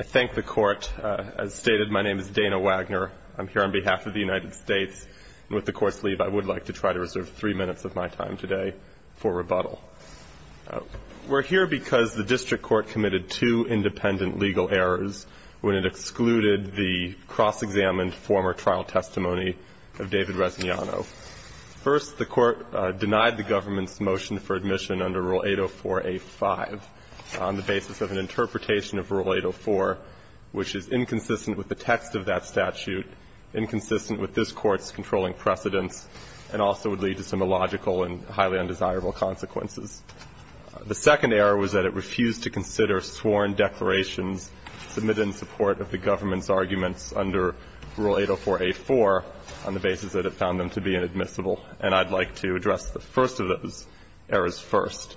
I thank the court. As stated, my name is Dana Wagner. I'm here on behalf of the United States, and with the court's leave, I would like to try to reserve three minutes of my time today for rebuttal. We're here because the district court committed two independent legal errors when it excluded the cross-examined former trial testimony of David Resignano. First, the court denied the government's motion for admission under Rule 804a-5 on the basis of an interpretation of Rule 804, which is inconsistent with the text of that statute, inconsistent with this Court's controlling precedents, and also would lead to some illogical and highly undesirable consequences. The second error was that it refused to consider sworn declarations submitted in support of the government's arguments under Rule 804a-4 on the basis that it found them to be inadmissible, and I'd like to address the first of those errors first.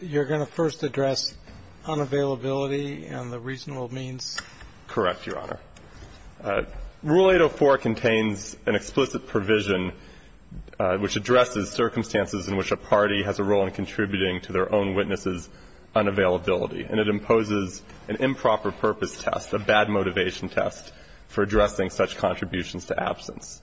You're going to first address unavailability and the reasonable means? Correct, Your Honor. Rule 804 contains an explicit provision which addresses circumstances in which a party has a role in contributing to their own witnesses' unavailability, and it imposes an improper purpose test, a bad motivation test, for addressing such contributions to absence.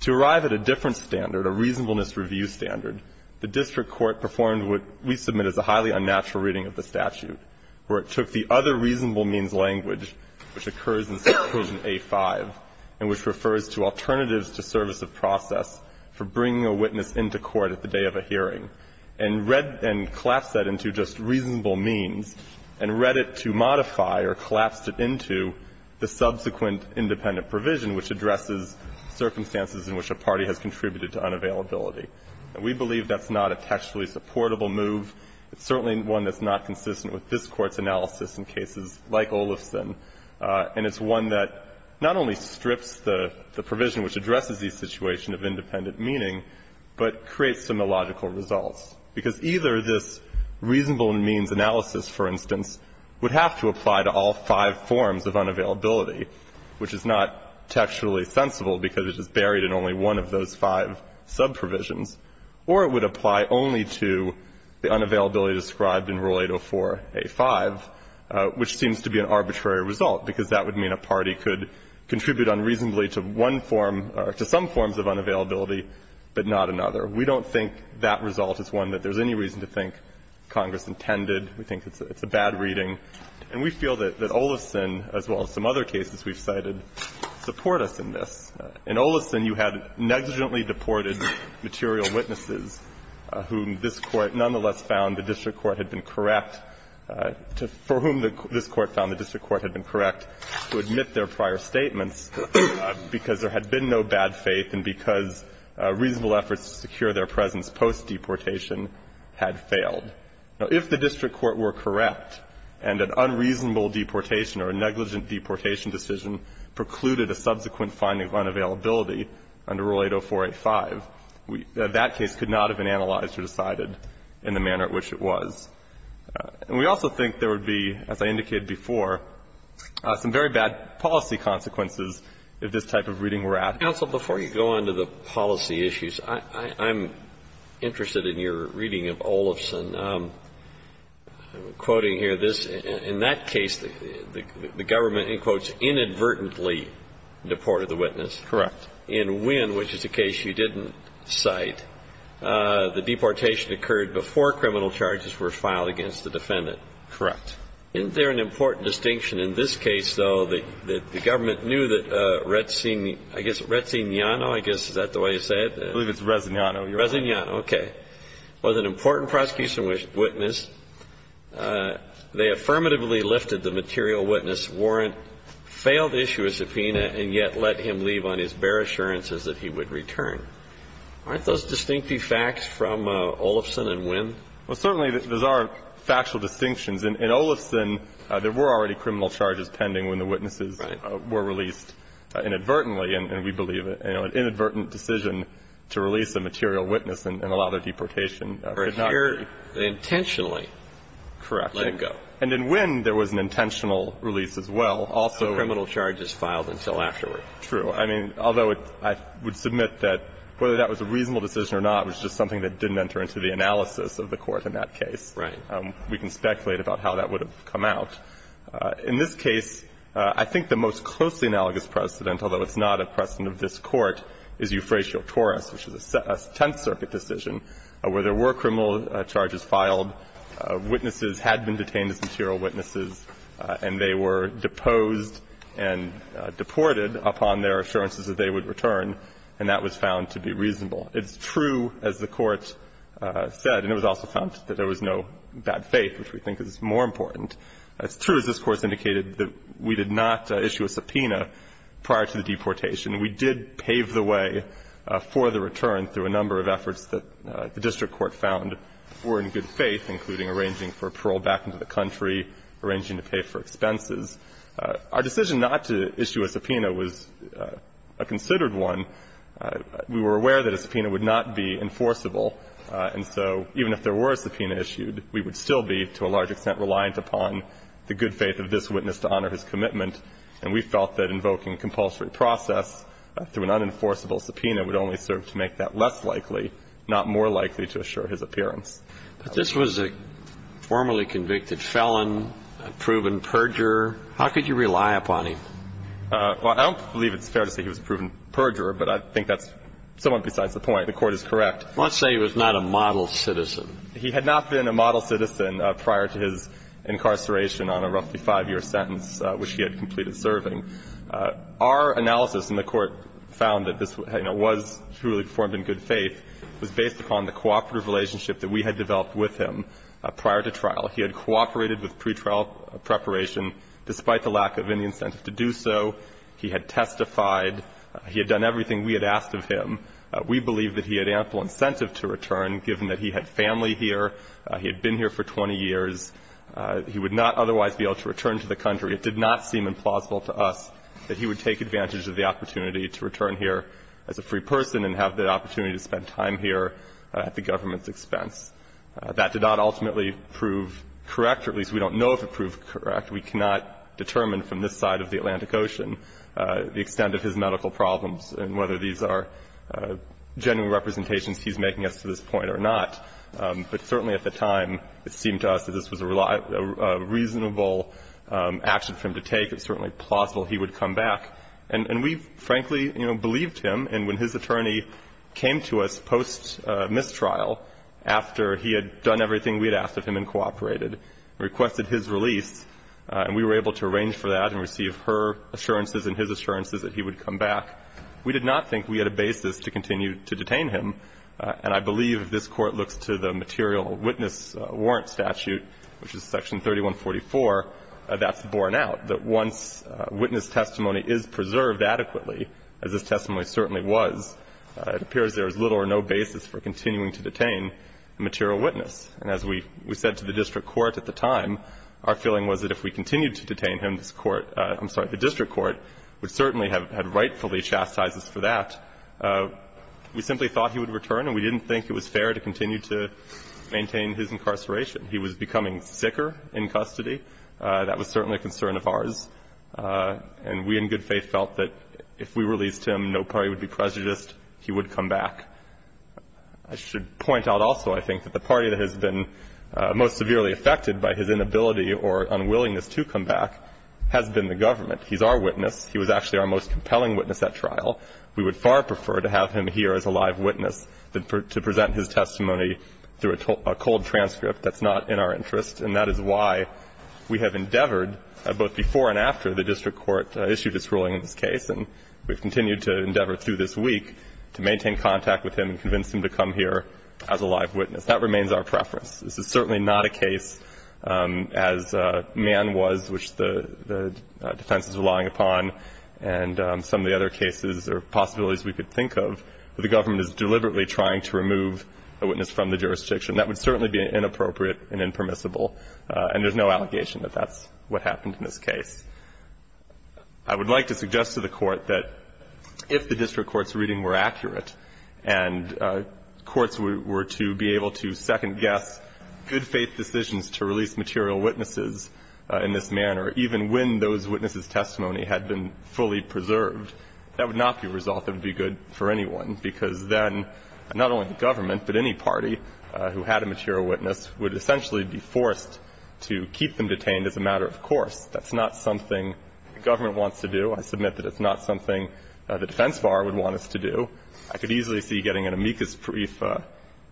To arrive at a different standard, a reasonableness review standard, the district court performed what we submit as a highly unnatural reading of the statute, where it took the other reasonable means language, which occurs in Section A-5, and which refers to alternatives to service of process for bringing a witness into court at the day of a hearing, and read and collapsed that into just reasonable means, and read it to modify or collapsed it into the subsequent independent provision, which addresses circumstances in which a party has contributed to unavailability. And we believe that's not a textually supportable move. It's certainly one that's not consistent with this Court's analysis in cases like Olufsen, and it's one that not only strips the provision which addresses these situations of independent meaning, but creates some illogical results, because either this reasonable means analysis, for instance, would have to apply to all five forms of unavailability, which is not textually sensible because it is buried in only one of those five sub-provisions, or it would apply only to the unavailability described in Rule 804a-5, which seems to be an arbitrary result, because that would mean a party could contribute unreasonably to one form or to some forms of unavailability, but not another. We don't think that result is one that there's any reason to think Congress intended. We think it's a bad reading. And we feel that Olufsen, as well as some other cases we've cited, support us in this. In Olufsen, you had negligently deported material witnesses whom this Court nonetheless found the district court had been correct to – for whom this Court found the district court had been correct to admit their prior statements because there had been no bad faith and because reasonable efforts to secure their presence post-deportation had failed. Now, if the district court were correct and an unreasonable deportation or a negligent deportation decision precluded a subsequent finding of unavailability under Rule 804a-5, that case could not have been analyzed or decided in the manner at which it was. And we also think there would be, as I indicated before, some very bad policy consequences if this type of reading were added. Alito, before you go on to the policy issues, I'm interested in your reading of Olufsen. I'm quoting here this. In that case, the government, in quotes, inadvertently deported the witness. Correct. And when, which is a case you didn't cite, the deportation occurred before criminal charges were filed against the defendant. Correct. Isn't there an important distinction in this case, though, that the government knew that Razzignano, I guess, is that the way you say it? I believe it's Razzignano. Razzignano, okay. Was an important prosecution witness. They affirmatively lifted the material witness warrant, failed to issue a subpoena, and yet let him leave on his bare assurances that he would return. Aren't those distinctive facts from Olufsen and Winn? Well, certainly, those are factual distinctions. In Olufsen, there were already criminal charges pending when the witnesses were released inadvertently, and we believe, you know, an inadvertent decision to release a material witness and allow their deportation could not be. But here, they intentionally let him go. Correct. And in Winn, there was an intentional release as well. Also, criminal charges filed until afterward. True. I mean, although I would submit that whether that was a reasonable decision or not was just something that didn't enter into the analysis of the Court in that case. Right. We can speculate about how that would have come out. In this case, I think the most closely analogous precedent, although it's not a precedent of this Court, is Euphratio Torres, which is a Tenth Circuit decision, where there were criminal charges filed, witnesses had been detained as material witnesses, and they were deposed and deported upon their assurances that they would return, and that was found to be reasonable. It's true, as the Court said, and it was also found that there was no bad faith, which we think is more important. It's true, as this Court indicated, that we did not issue a subpoena prior to the deportation. We did pave the way for the return through a number of efforts that the district court found were in good faith, including arranging for parole back into the country, arranging to pay for expenses. Our decision not to issue a subpoena was a considered one. We were aware that a subpoena would not be enforceable, and so even if there were a subpoena issued, we would still be, to a large extent, reliant upon the good faith of this witness to honor his commitment. And we felt that invoking compulsory process through an unenforceable subpoena would only serve to make that less likely, not more likely to assure his appearance. But this was a formerly convicted felon, a proven perjurer. How could you rely upon him? Well, I don't believe it's fair to say he was a proven perjurer, but I think that's somewhat besides the point. The Court is correct. Let's say he was not a model citizen. He had not been a model citizen prior to his incarceration on a roughly five-year sentence, which he had completed serving. Our analysis, and the Court found that this, you know, was truly formed in good faith, was based upon the cooperative relationship that we had developed with him prior to trial. He had cooperated with pretrial preparation despite the lack of any incentive to do so. He had testified. He had done everything we had asked of him. We believe that he had ample incentive to return, given that he had family here, he had been here for 20 years. He would not otherwise be able to return to the country. It did not seem implausible to us that he would take advantage of the opportunity to return here as a free person and have the opportunity to spend time here at the government's expense. That did not ultimately prove correct, or at least we don't know if it proved correct. We cannot determine from this side of the Atlantic Ocean the extent of his medical problems and whether these are genuine representations he's making us to this point or not. But certainly at the time, it seemed to us that this was a reasonable action for him to take. It's certainly plausible he would come back. And we, frankly, you know, believed him. And when his attorney came to us post-mistrial, after he had done everything we had asked of him and cooperated, requested his release, and we were able to arrange for that and receive her assurances and his assurances that he would come back, we did not think we had a basis to continue to detain him. And I believe if this Court looks to the material witness warrant statute, which is section 3144, that's borne out, that once witness testimony is preserved adequately, as this testimony certainly was, it appears there is little or no basis for continuing to detain a material witness. And as we said to the district court at the time, our feeling was that if we continued to detain him, this Court – I'm sorry, the district court would certainly have had rightfully chastised us for that. We simply thought he would return, and we didn't think it was fair to continue to maintain his incarceration. He was becoming sicker in custody. That was certainly a concern of ours. And we in good faith felt that if we released him, no party would be prejudiced. He would come back. I should point out also, I think, that the party that has been most severely affected by his inability or unwillingness to come back has been the government. He's our witness. He was actually our most compelling witness at trial. We would far prefer to have him here as a live witness than to present his testimony through a cold transcript that's not in our interest. And that is why we have endeavored, both before and after the district court issued its ruling on this case, and we've continued to endeavor through this week to maintain contact with him and convince him to come here as a live witness. That remains our preference. This is certainly not a case, as Mann was, which the defense is relying upon, and some of the other cases or possibilities we could think of, where the government is deliberately trying to remove a witness from the jurisdiction. That would certainly be inappropriate and impermissible. And there's no allegation that that's what happened in this case. I would like to suggest to the court that if the district court's reading were accurate and courts were to be able to second guess good faith decisions to release material witnesses in this manner, even when those witnesses' testimony had been fully preserved, that would not be a result that would be good for anyone. Because then, not only the government, but any party who had a material witness would essentially be forced to keep them detained as a matter of course. That's not something the government wants to do. I submit that it's not something the defense bar would want us to do. I could easily see getting an amicus brief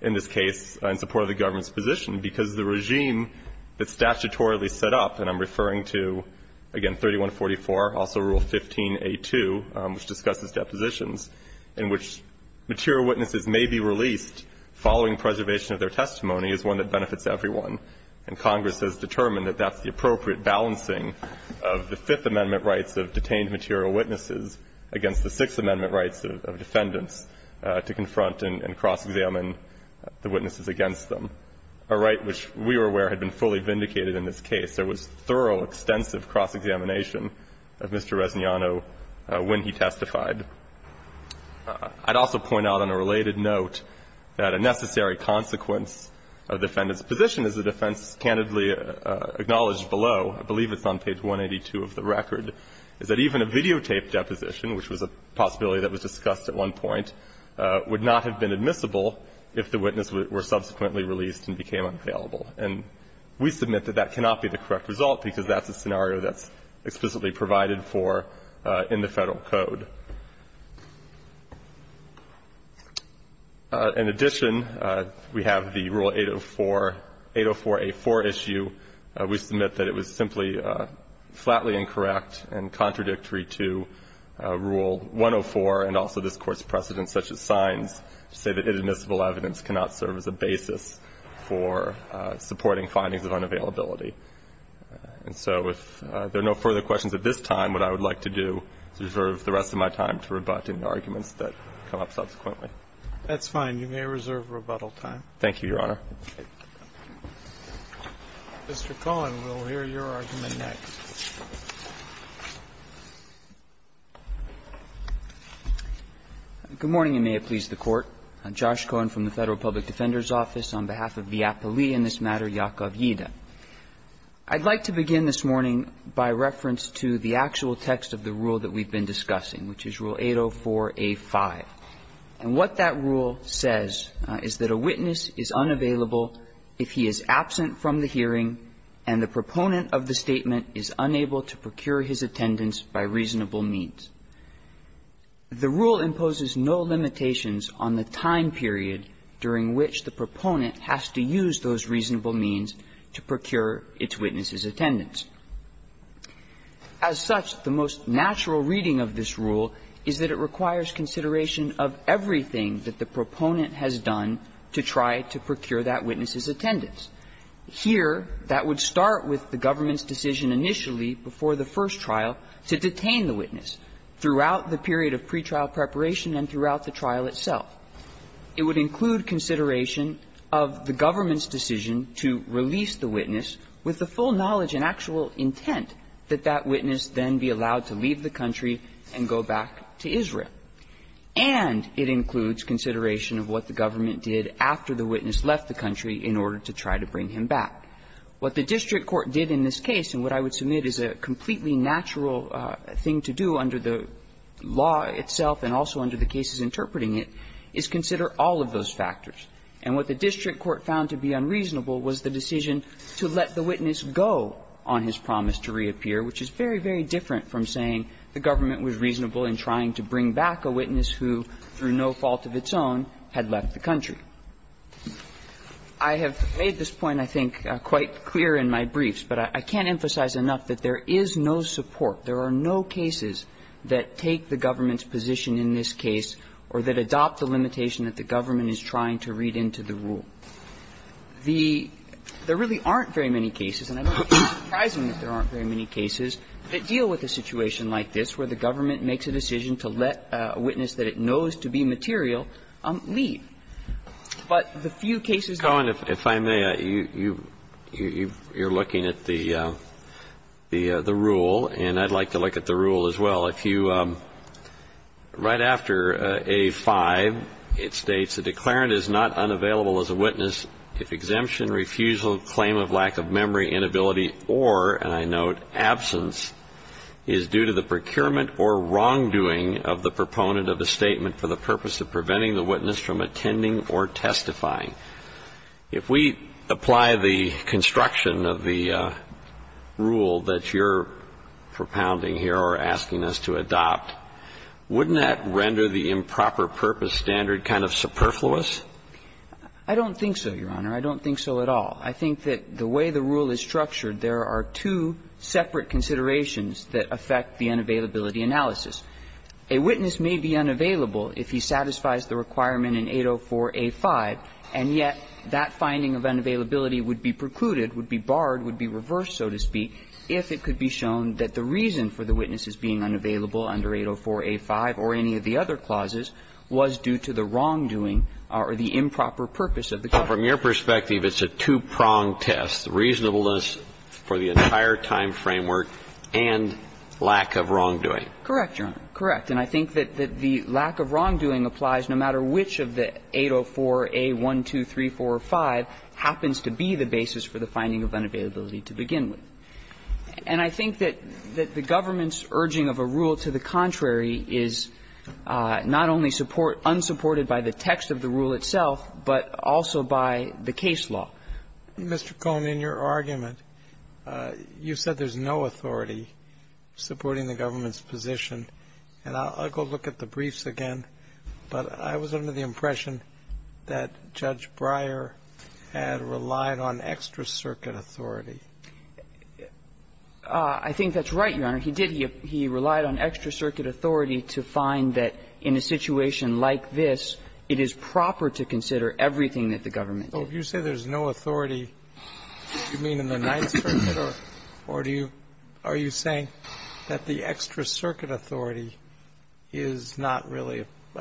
in this case in support of the government's position, because the regime that's statutorily set up, and I'm referring to, again, 3144, also Rule 15a2, which discusses depositions, in which material witnesses may be released following preservation of their testimony is one that benefits everyone, and Congress has determined that that's the appropriate balancing of the Fifth Amendment rights of detained material witnesses against the Sixth Amendment rights of defendants to confront and cross-examine the witnesses against them. A right which we were aware had been fully vindicated in this case. There was thorough, extensive cross-examination of Mr. Resignano when he testified. I'd also point out on a related note that a necessary consequence of the defendant's position, as the defense candidly acknowledged below, I believe it's on page 182 of the record, is that even a videotaped deposition, which was a possibility that was discussed at one point, would not have been admissible if the witness were subsequently released and became unavailable. And we submit that that cannot be the correct result, because that's a scenario that's explicitly provided for in the Federal Code. In addition, we have the Rule 804, 804a4 issue. We submit that it was simply flatly incorrect and contradictory to Rule 104, and we submit that it's not the case that the defendant's position was unavailable in this case. And so I would like to reserve the rest of my time to rebut any arguments that come up subsequently. That's fine. You may reserve rebuttal time. Thank you, Your Honor. Mr. Cohen, we'll hear your argument next. Good morning, and may it please the Court. I'm Josh Cohen from the Federal Public Defender's Office. On behalf of the appellee in this matter, Yakov Yida, I'd like to begin this morning by reference to the actual text of the rule that we've been discussing, which is Rule 804a5. And what that rule says is that a witness is unavailable if he is absent from the hearing and the proponent of the statement is unable to procure his attendance by reasonable means. The rule imposes no limitations on the time period during which the proponent has to use those reasonable means to procure its witness's attendance. As such, the most natural reading of this rule is that it requires consideration of everything that the proponent has done to try to procure that witness's attendance. Here, that would start with the government's decision initially before the first trial to detain the witness. Throughout the period of pretrial preparation and throughout the trial itself. It would include consideration of the government's decision to release the witness with the full knowledge and actual intent that that witness then be allowed to leave the country and go back to Israel. And it includes consideration of what the government did after the witness left the country in order to try to bring him back. What the district court did in this case, and what I would submit is a completely natural thing to do under the law itself and also under the cases interpreting it, is consider all of those factors. And what the district court found to be unreasonable was the decision to let the witness go on his promise to reappear, which is very, very different from saying the government was reasonable in trying to bring back a witness who, through no fault of its own, had left the country. I have made this point, I think, quite clear in my briefs, but I can't emphasize enough that there is no support, there are no cases that take the government's position in this case or that adopt the limitation that the government is trying to read into the rule. The – there really aren't very many cases, and I don't think it's surprising that there aren't very many cases that deal with a situation like this where the government makes a decision to let a witness that it knows to be material leave. The rule, and I'd like to look at the rule as well. If you – right after A-5, it states, A declarant is not unavailable as a witness if exemption, refusal, claim of lack of memory, inability, or, and I note absence, is due to the procurement or wrongdoing of the proponent of a statement for the purpose of preventing the witness from attending or testifying. If we apply the construction of the rule that you're propounding here or asking us to adopt, wouldn't that render the improper purpose standard kind of superfluous? I don't think so, Your Honor. I don't think so at all. I think that the way the rule is structured, there are two separate considerations that affect the unavailability analysis. A witness may be unavailable if he satisfies the requirement in 804-A-5, and yet that finding of unavailability would be precluded, would be barred, would be reversed, so to speak, if it could be shown that the reason for the witness's being unavailable under 804-A-5 or any of the other clauses was due to the wrongdoing or the improper purpose of the claimant. So from your perspective, it's a two-pronged test, reasonableness for the entire time framework and lack of wrongdoing. Correct, Your Honor. Correct. And I think that the lack of wrongdoing applies no matter which of the 804-A-12345 happens to be the basis for the finding of unavailability to begin with. And I think that the government's urging of a rule to the contrary is not only support unsupported by the text of the rule itself, but also by the case law. Mr. Cohn, in your argument, you said there's no authority supporting the government's position, and I'll go look at the briefs again, but I was under the impression that Judge Breyer had relied on extra-circuit authority. I think that's right, Your Honor. He did. He relied on extra-circuit authority to find that in a situation like this, it is proper to consider everything that the government did. So if you say there's no authority, do you mean in the Ninth Circuit or do you – are you saying that the extra-circuit authority is not really –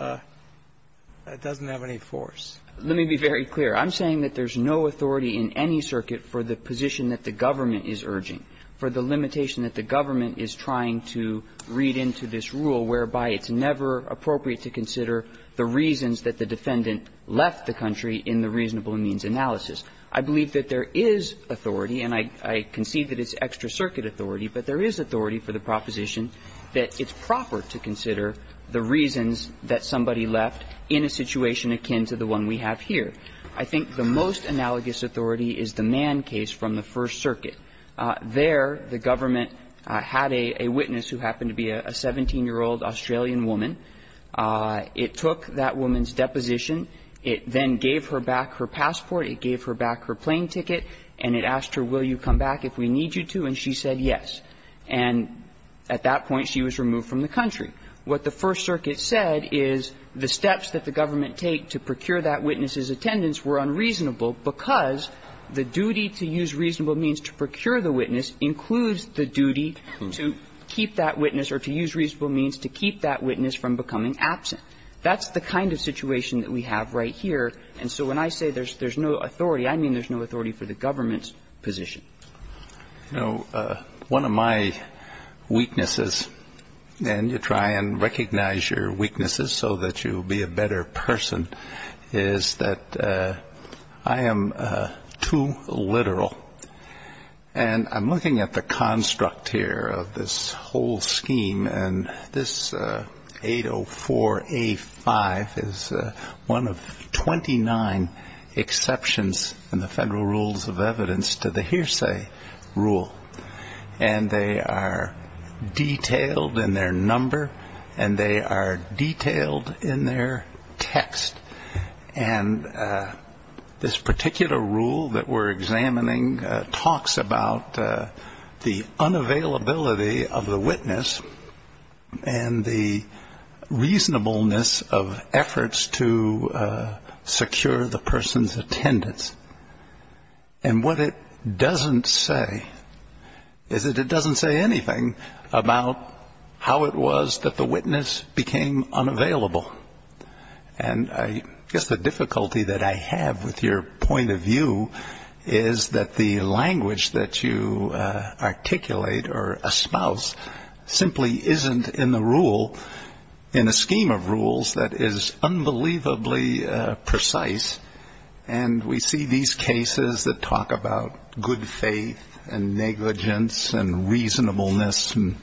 doesn't have any force? Let me be very clear. I'm saying that there's no authority in any circuit for the position that the government is urging, for the limitation that the government is trying to read into this rule, whereby it's never appropriate to consider the reasons that the defendant left the country in the reasonable means analysis. I believe that there is authority, and I concede that it's extra-circuit authority, but there is authority for the proposition that it's proper to consider the reasons that somebody left in a situation akin to the one we have here. I think the most analogous authority is the Mann case from the First Circuit. There, the government had a witness who happened to be a 17-year-old Australian woman. It took that woman's deposition. It then gave her back her passport. It gave her back her plane ticket. And it asked her, will you come back if we need you to, and she said yes. And at that point, she was removed from the country. What the First Circuit said is the steps that the government take to procure that witness's attendance were unreasonable because the duty to use reasonable means to procure the witness includes the duty to keep that witness or to use reasonable means to keep that witness from becoming absent. That's the kind of situation that we have right here, and so when I say there's no authority, I mean there's no authority for the government's position. You know, one of my weaknesses, and you try and recognize your weaknesses so that you will be a better person, is that I am too literal. And I'm looking at the construct here of this whole scheme, and this 804A5 is one of 29 exceptions in the Federal Rules of Evidence to the hearsay rule. And they are detailed in their number, and they are detailed in their text, and this particular rule that we're examining talks about the unavailability of the witness and the reasonableness of efforts to secure the person's attendance. And what it doesn't say is that it doesn't say anything about how it was that the witness became unavailable. And I guess the difficulty that I have with your point of view is that the language that you articulate or espouse simply isn't in the rule, in the scheme of rules, that is unbelievably precise. And we see these cases that talk about good faith and negligence and reasonableness and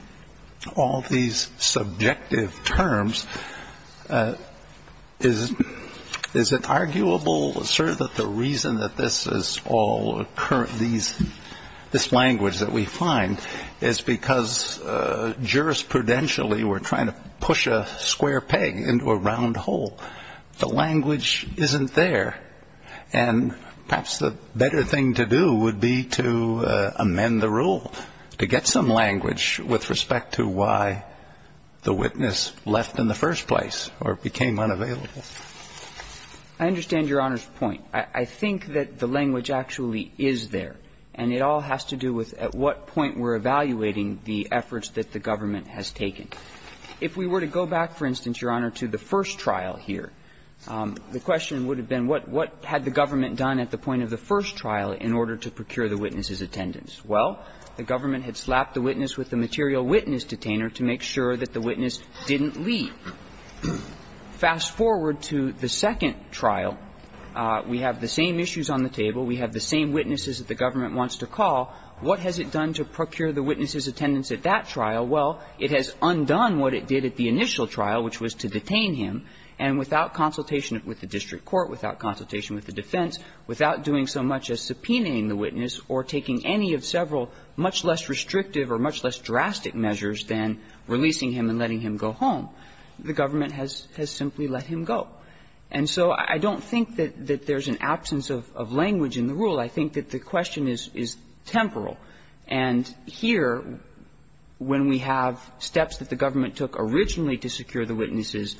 all these subjective terms. Is it arguable, sir, that the reason that this is all current, this language that we find, is because jurisprudentially we're trying to push a square peg into a round hole. The language isn't there. And perhaps the better thing to do would be to amend the rule, to get some language with respect to why the witness left in the first place or became unavailable. I understand Your Honor's point. I think that the language actually is there, and it all has to do with at what point we're evaluating the efforts that the government has taken. If we were to go back, for instance, Your Honor, to the first trial here, the question would have been what had the government done at the point of the first trial in order to procure the witness's attendance. Well, the government had slapped the witness with the material witness detainer to make sure that the witness didn't leave. Fast forward to the second trial. We have the same issues on the table. We have the same witnesses that the government wants to call. What has it done to procure the witness's attendance at that trial? Well, it has undone what it did at the initial trial, which was to detain him, and without consultation with the district court, without consultation with the defense, without doing so much as subpoenaing the witness or taking any of several much less restrictive or much less drastic measures than releasing him and letting him go home. The government has simply let him go. And so I don't think that there's an absence of language in the rule. I think that the question is temporal. And here, when we have steps that the government took originally to secure the witness's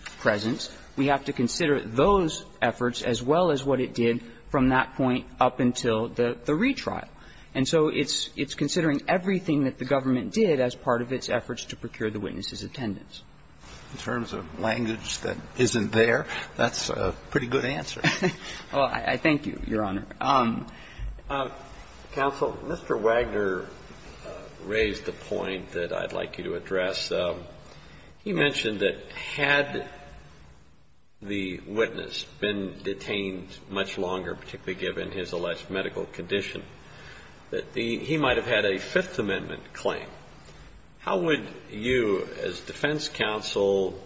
from that point up until the retrial. And so it's considering everything that the government did as part of its efforts to procure the witness's attendance. In terms of language that isn't there, that's a pretty good answer. Well, I thank you, Your Honor. Counsel, Mr. Wagner raised a point that I'd like you to address. He mentioned that had the witness been detained much longer, particularly given his alleged medical condition, that he might have had a Fifth Amendment claim. How would you, as defense counsel,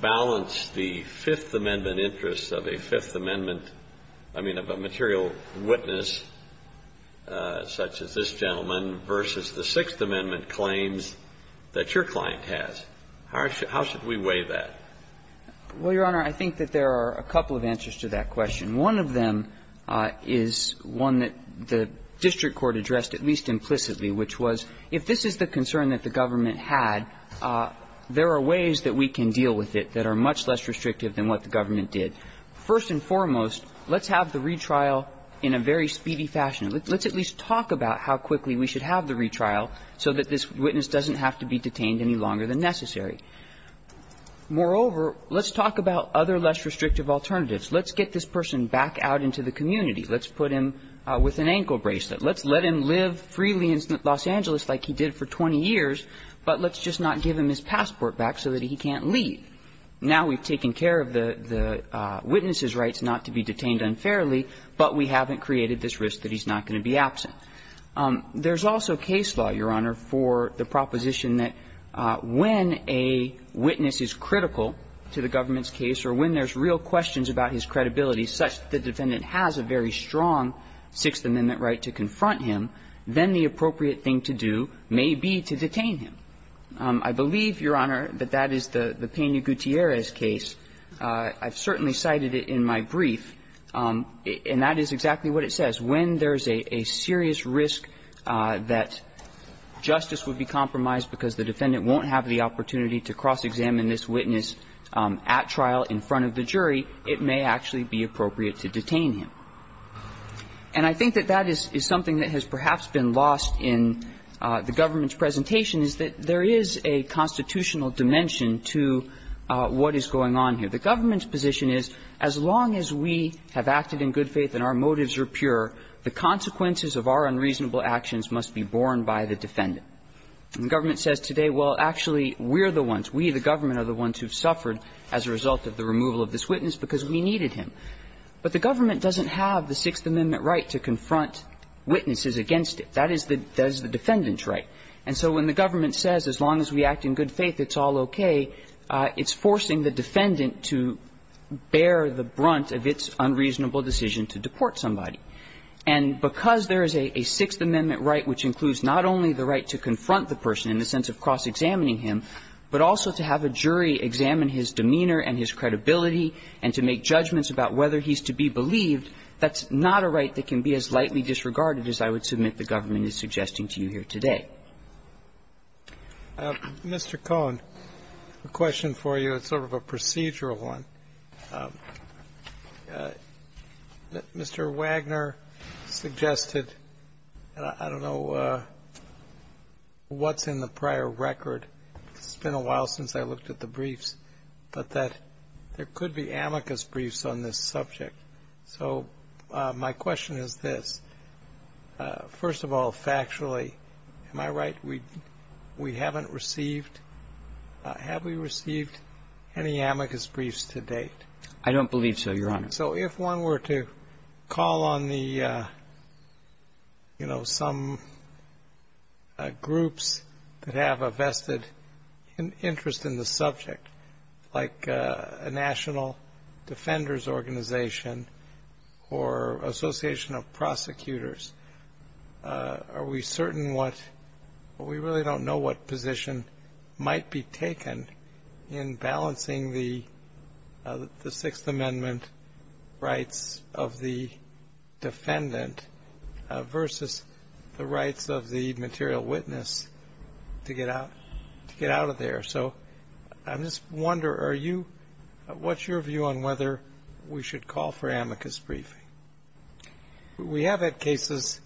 balance the Fifth Amendment interests of a Fifth Amendment, I mean, of a material witness such as this gentleman versus the Sixth Amendment claims that your client has? How should we weigh that? Well, Your Honor, I think that there are a couple of answers to that question. One of them is one that the district court addressed at least implicitly, which was if this is the concern that the government had, there are ways that we can deal with it that are much less restrictive than what the government did. First and foremost, let's have the retrial in a very speedy fashion. Let's at least talk about how quickly we should have the retrial so that this witness doesn't have to be detained any longer than necessary. Moreover, let's talk about other less restrictive alternatives. Let's get this person back out into the community. Let's put him with an ankle bracelet. Let's let him live freely in Los Angeles like he did for 20 years, but let's just not give him his passport back so that he can't leave. Now we've taken care of the witness's rights not to be detained unfairly, but we haven't created this risk that he's not going to be absent. There's also case law, Your Honor, for the proposition that when a witness is critical to the government's case or when there's real questions about his credibility such that the defendant has a very strong Sixth Amendment right to confront him, then the appropriate thing to do may be to detain him. I believe, Your Honor, that that is the Peña-Gutierrez case. I've certainly cited it in my brief, and that is exactly what it says. When there's a serious risk that justice would be compromised because the defendant won't have the opportunity to cross-examine this witness at trial in front of the jury, it may actually be appropriate to detain him. And I think that that is something that has perhaps been lost in the government's position is, as long as we have acted in good faith and our motives are pure, the consequences of our unreasonable actions must be borne by the defendant. And the government says today, well, actually, we're the ones, we, the government, are the ones who've suffered as a result of the removal of this witness because we needed him. But the government doesn't have the Sixth Amendment right to confront witnesses against it. That is the defendant's right. And so when the government says, as long as we act in good faith, it's all okay, it's forcing the defendant to bear the brunt of its unreasonable decision to deport somebody. And because there is a Sixth Amendment right which includes not only the right to confront the person in the sense of cross-examining him, but also to have a jury examine his demeanor and his credibility and to make judgments about whether he's to be believed, that's not a right that can be as lightly disregarded as I would submit the government is suggesting to you here today. Mr. Cohen, a question for you. It's sort of a procedural one. Mr. Wagner suggested, and I don't know what's in the prior record. It's been a while since I looked at the briefs, but that there could be amicus briefs on this subject. So my question is this. First of all, factually, am I right? We haven't received, have we received any amicus briefs to date? I don't believe so, Your Honor. So if one were to call on the, you know, some groups that have a vested interest in the subject, like a National Defenders Organization or Association of Prosecutors, are we certain what, we really don't know what position might be taken in balancing the Sixth Amendment rights of the defendant versus the rights of the material witness to get out of there. So I just wonder, are you, what's your view on whether we should call for amicus briefing? We have had cases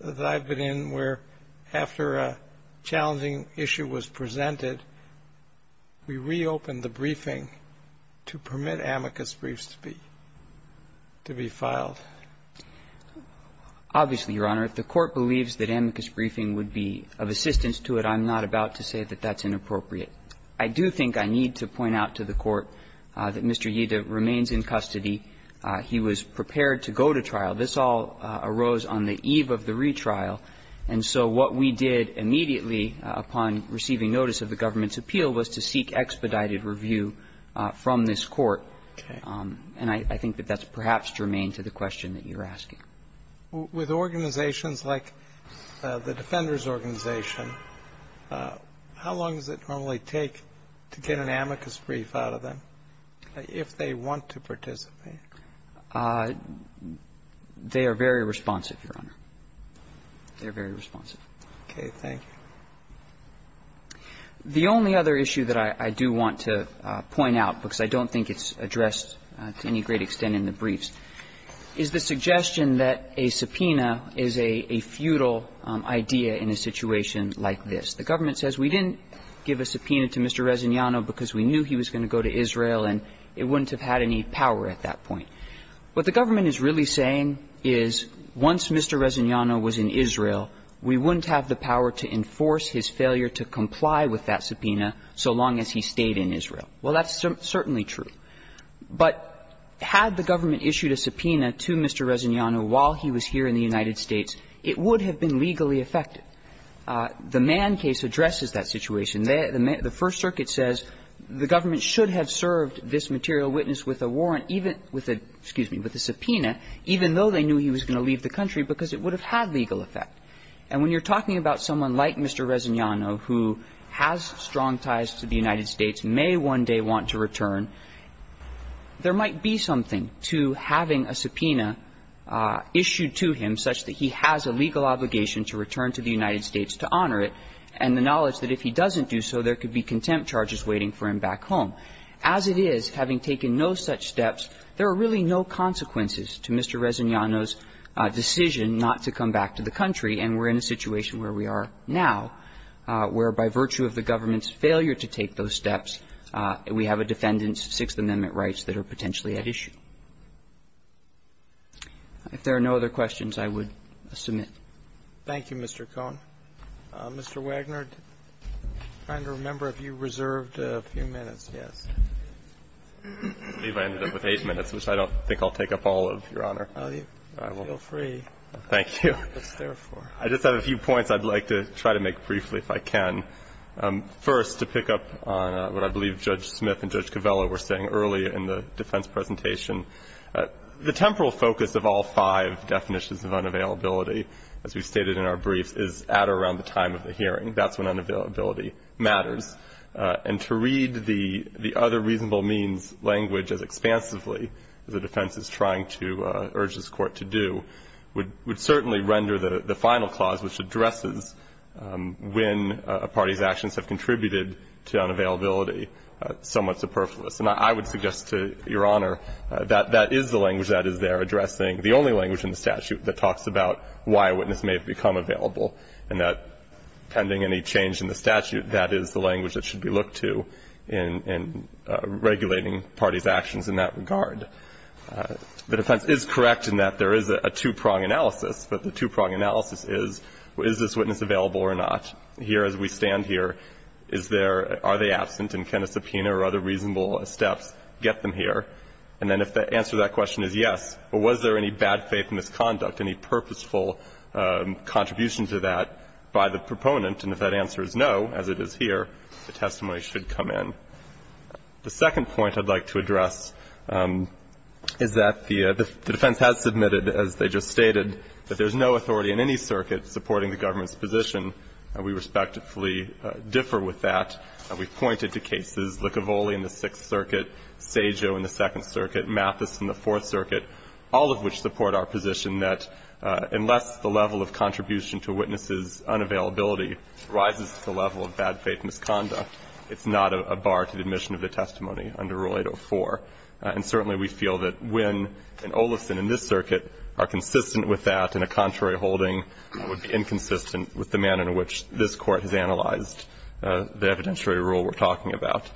that I've been in where after a challenging issue was presented, we reopened the briefing to permit amicus briefs to be, to be filed. Obviously, Your Honor, if the Court believes that amicus briefing would be of assistance to it, I'm not about to say that that's inappropriate. I do think I need to point out to the Court that Mr. Yida remains in custody. He was prepared to go to trial. This all arose on the eve of the retrial. And so what we did immediately upon receiving notice of the government's appeal was to seek expedited review from this Court. And I think that that's perhaps germane to the question that you're asking. With organizations like the Defenders Organization, how long does it normally take to get an amicus brief out of them if they want to participate? They are very responsive, Your Honor. They're very responsive. Okay. Thank you. The only other issue that I do want to point out, because I don't think it's addressed to any great extent in the briefs, is the suggestion that a subpoena is a futile idea in a situation like this. The government says we didn't give a subpoena to Mr. Resignano because we knew he was going to go to Israel and it wouldn't have had any power at that point. What the government is really saying is once Mr. Resignano was in Israel, we wouldn't have the power to enforce his failure to comply with that subpoena so long as he stayed in Israel. Well, that's certainly true. But had the government issued a subpoena to Mr. Resignano while he was here in the United States, it would have been legally effective. The Mann case addresses that situation. The First Circuit says the government should have served this material witness with a warrant, even with a – excuse me – with a subpoena, even though they knew he was going to leave the country, because it would have had legal effect. And when you're talking about someone like Mr. Resignano who has strong ties to the government, there might be something to having a subpoena issued to him such that he has a legal obligation to return to the United States to honor it, and the knowledge that if he doesn't do so, there could be contempt charges waiting for him back home. As it is, having taken no such steps, there are really no consequences to Mr. Resignano's decision not to come back to the country, and we're in a situation where we are now, where by virtue of the government's failure to take those steps, we have a defendant's Sixth Amendment rights that are potentially at issue. If there are no other questions, I would submit. Roberts. Thank you, Mr. Cohn. Mr. Wagner, I'm trying to remember if you reserved a few minutes. Yes. Wagner. I believe I ended up with eight minutes, which I don't think I'll take up all of, Your Honor. Roberts. Oh, feel free. Wagner. Thank you. Roberts. What's there for? Wagner. I just have a few points I'd like to try to make briefly, if I can. First, to pick up on what I believe Judge Smith and Judge Covello were saying earlier in the defense presentation, the temporal focus of all five definitions of unavailability, as we stated in our briefs, is at or around the time of the hearing. That's when unavailability matters. And to read the other reasonable means language as expansively as the defense is trying to urge this Court to do would certainly render the final clause, which addresses when a party's actions have contributed to unavailability, somewhat superfluous. And I would suggest to Your Honor that that is the language that is there addressing the only language in the statute that talks about why a witness may have become available, and that pending any change in the statute, that is the language that should be looked to in regulating parties' actions in that regard. The defense is correct in that there is a two-prong analysis, but the two-prong analysis is, is this witness available or not? Here, as we stand here, is there or are they absent, and can a subpoena or other reasonable steps get them here? And then if the answer to that question is yes, well, was there any bad faith misconduct, any purposeful contribution to that by the proponent, and if that answer is no, as it is here, the testimony should come in. The second point I'd like to address is that the defense has submitted, as they just stated, that there's no authority in any circuit supporting the government's position. We respectfully differ with that. We've pointed to cases, Licavoli in the Sixth Circuit, Saggio in the Second Circuit, Mathis in the Fourth Circuit, all of which support our position that unless the level of contribution to a witness's unavailability rises to the level of bad faith misconduct, it's not a bar to the admission of the testimony under Rule 804. And certainly we feel that Wynn and Olison in this circuit are consistent with that, and a contrary holding would be inconsistent with the manner in which this Court has analyzed the evidentiary rule we're talking about.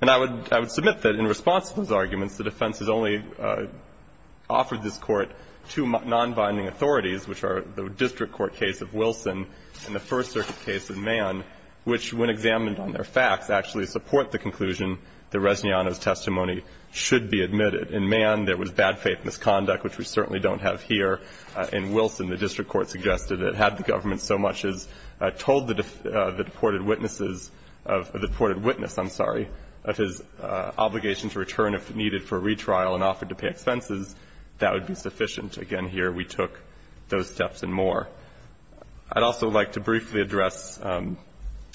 And I would – I would submit that in response to those arguments, the defense has only offered this Court two nonbinding authorities, which are the district court case of Wilson and the First Circuit case of Mann, which, when examined should be admitted. In Mann, there was bad faith misconduct, which we certainly don't have here. In Wilson, the district court suggested that had the government so much as told the deported witnesses of – the deported witness, I'm sorry, of his obligation to return if needed for retrial and offered to pay expenses, that would be sufficient. Again, here we took those steps and more. I'd also like to briefly address the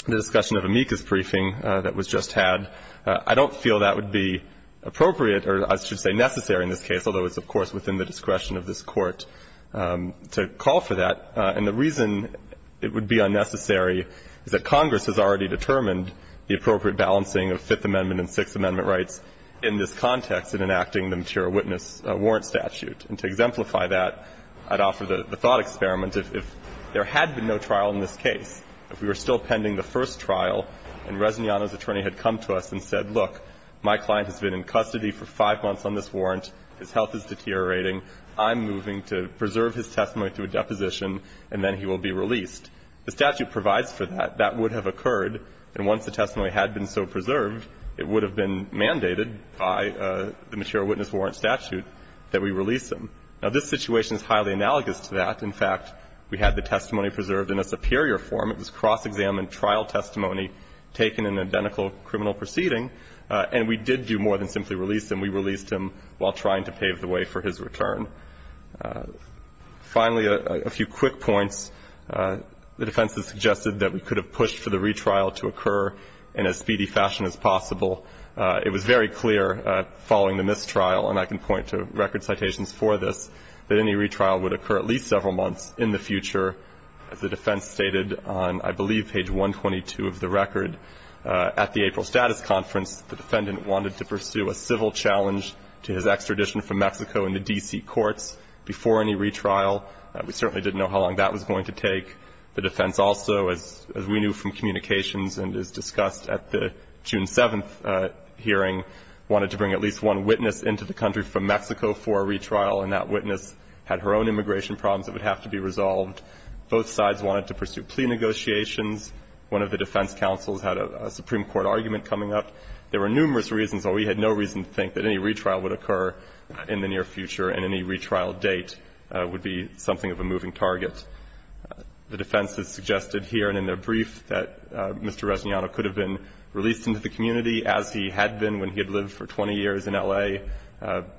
discussion of Amicus briefing that was just had. I don't feel that would be appropriate or I should say necessary in this case, although it's of course within the discretion of this Court, to call for that. And the reason it would be unnecessary is that Congress has already determined the appropriate balancing of Fifth Amendment and Sixth Amendment rights in this context in enacting the material witness warrant statute. And to exemplify that, I'd offer the thought experiment. If there had been no trial in this case, if we were still pending the first trial and Resignano's attorney had come to us and said, look, my client has been in custody for five months on this warrant, his health is deteriorating, I'm moving to preserve his testimony through a deposition and then he will be released, the statute provides for that, that would have occurred, and once the testimony had been so preserved, it would have been mandated by the material witness warrant statute that we release him. Now, this situation is highly analogous to that. In fact, we had the testimony preserved in a superior form. It was cross-examined trial testimony taken in an identical criminal proceeding, and we did do more than simply release him. We released him while trying to pave the way for his return. Finally, a few quick points. The defense has suggested that we could have pushed for the retrial to occur in as speedy fashion as possible. It was very clear following the mistrial, and I can point to record citations for this, that any retrial would occur at least several months in the future. As the defense stated on, I believe, page 122 of the record, at the April status conference, the defendant wanted to pursue a civil challenge to his extradition from Mexico into D.C. courts before any retrial. We certainly didn't know how long that was going to take. The defense also, as we knew from communications and as discussed at the June 7th hearing, wanted to bring at least one witness into the country from Mexico for a retrial, and that witness had her own immigration problems that would have to be resolved. Both sides wanted to pursue plea negotiations. One of the defense counsels had a Supreme Court argument coming up. There were numerous reasons, though we had no reason to think that any retrial would occur in the near future and any retrial date would be something of a moving target. The defense has suggested here and in their brief that Mr. Reginiano could have been released into the community as he had been when he had lived for 20 years in L.A.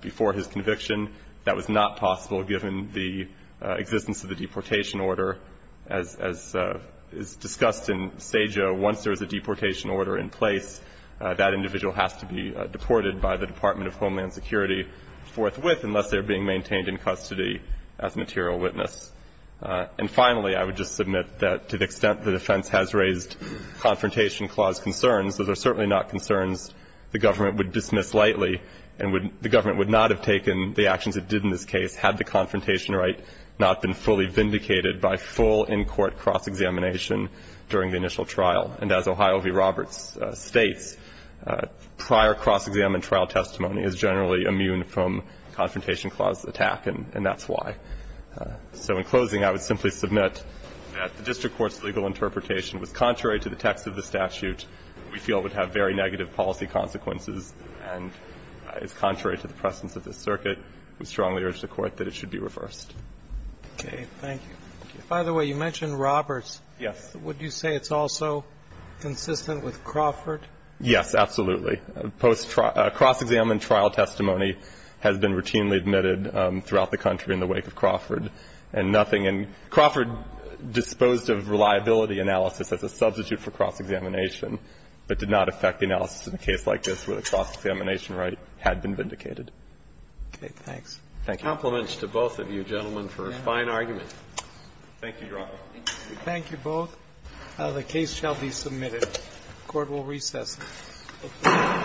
before his conviction. That was not possible given the existence of the deportation order. As is discussed in Sejo, once there is a deportation order in place, that individual has to be deported by the Department of Homeland Security forthwith unless they are being maintained in custody as material witness. And finally, I would just submit that to the extent the defense has raised Confrontation Clause concerns, those are certainly not concerns the government would dismiss lightly and the government would not have taken the actions it did in this case had the confrontation right not been fully vindicated by full in-court cross-examination during the initial trial. And as Ohio v. Roberts states, prior cross-exam and trial testimony is generally immune from Confrontation Clause attack, and that's why. So in closing, I would simply submit that the district court's legal interpretation was contrary to the text of the statute. We feel it would have very negative policy consequences and is contrary to the presence of the circuit. We strongly urge the court that it should be reversed. Okay, thank you. By the way, you mentioned Roberts. Yes. Would you say it's also consistent with Crawford? Yes, absolutely. Post cross-exam and trial testimony has been routinely admitted throughout the country in the wake of Crawford. And nothing in Crawford disposed of reliability analysis as a substitute for cross-examination, but did not affect the analysis in a case like this where the cross-examination right had been vindicated. Okay, thanks. Thank you. Compliments to both of you gentlemen for a fine argument. Thank you, Your Honor. Thank you both. The case shall be submitted. Court will recess.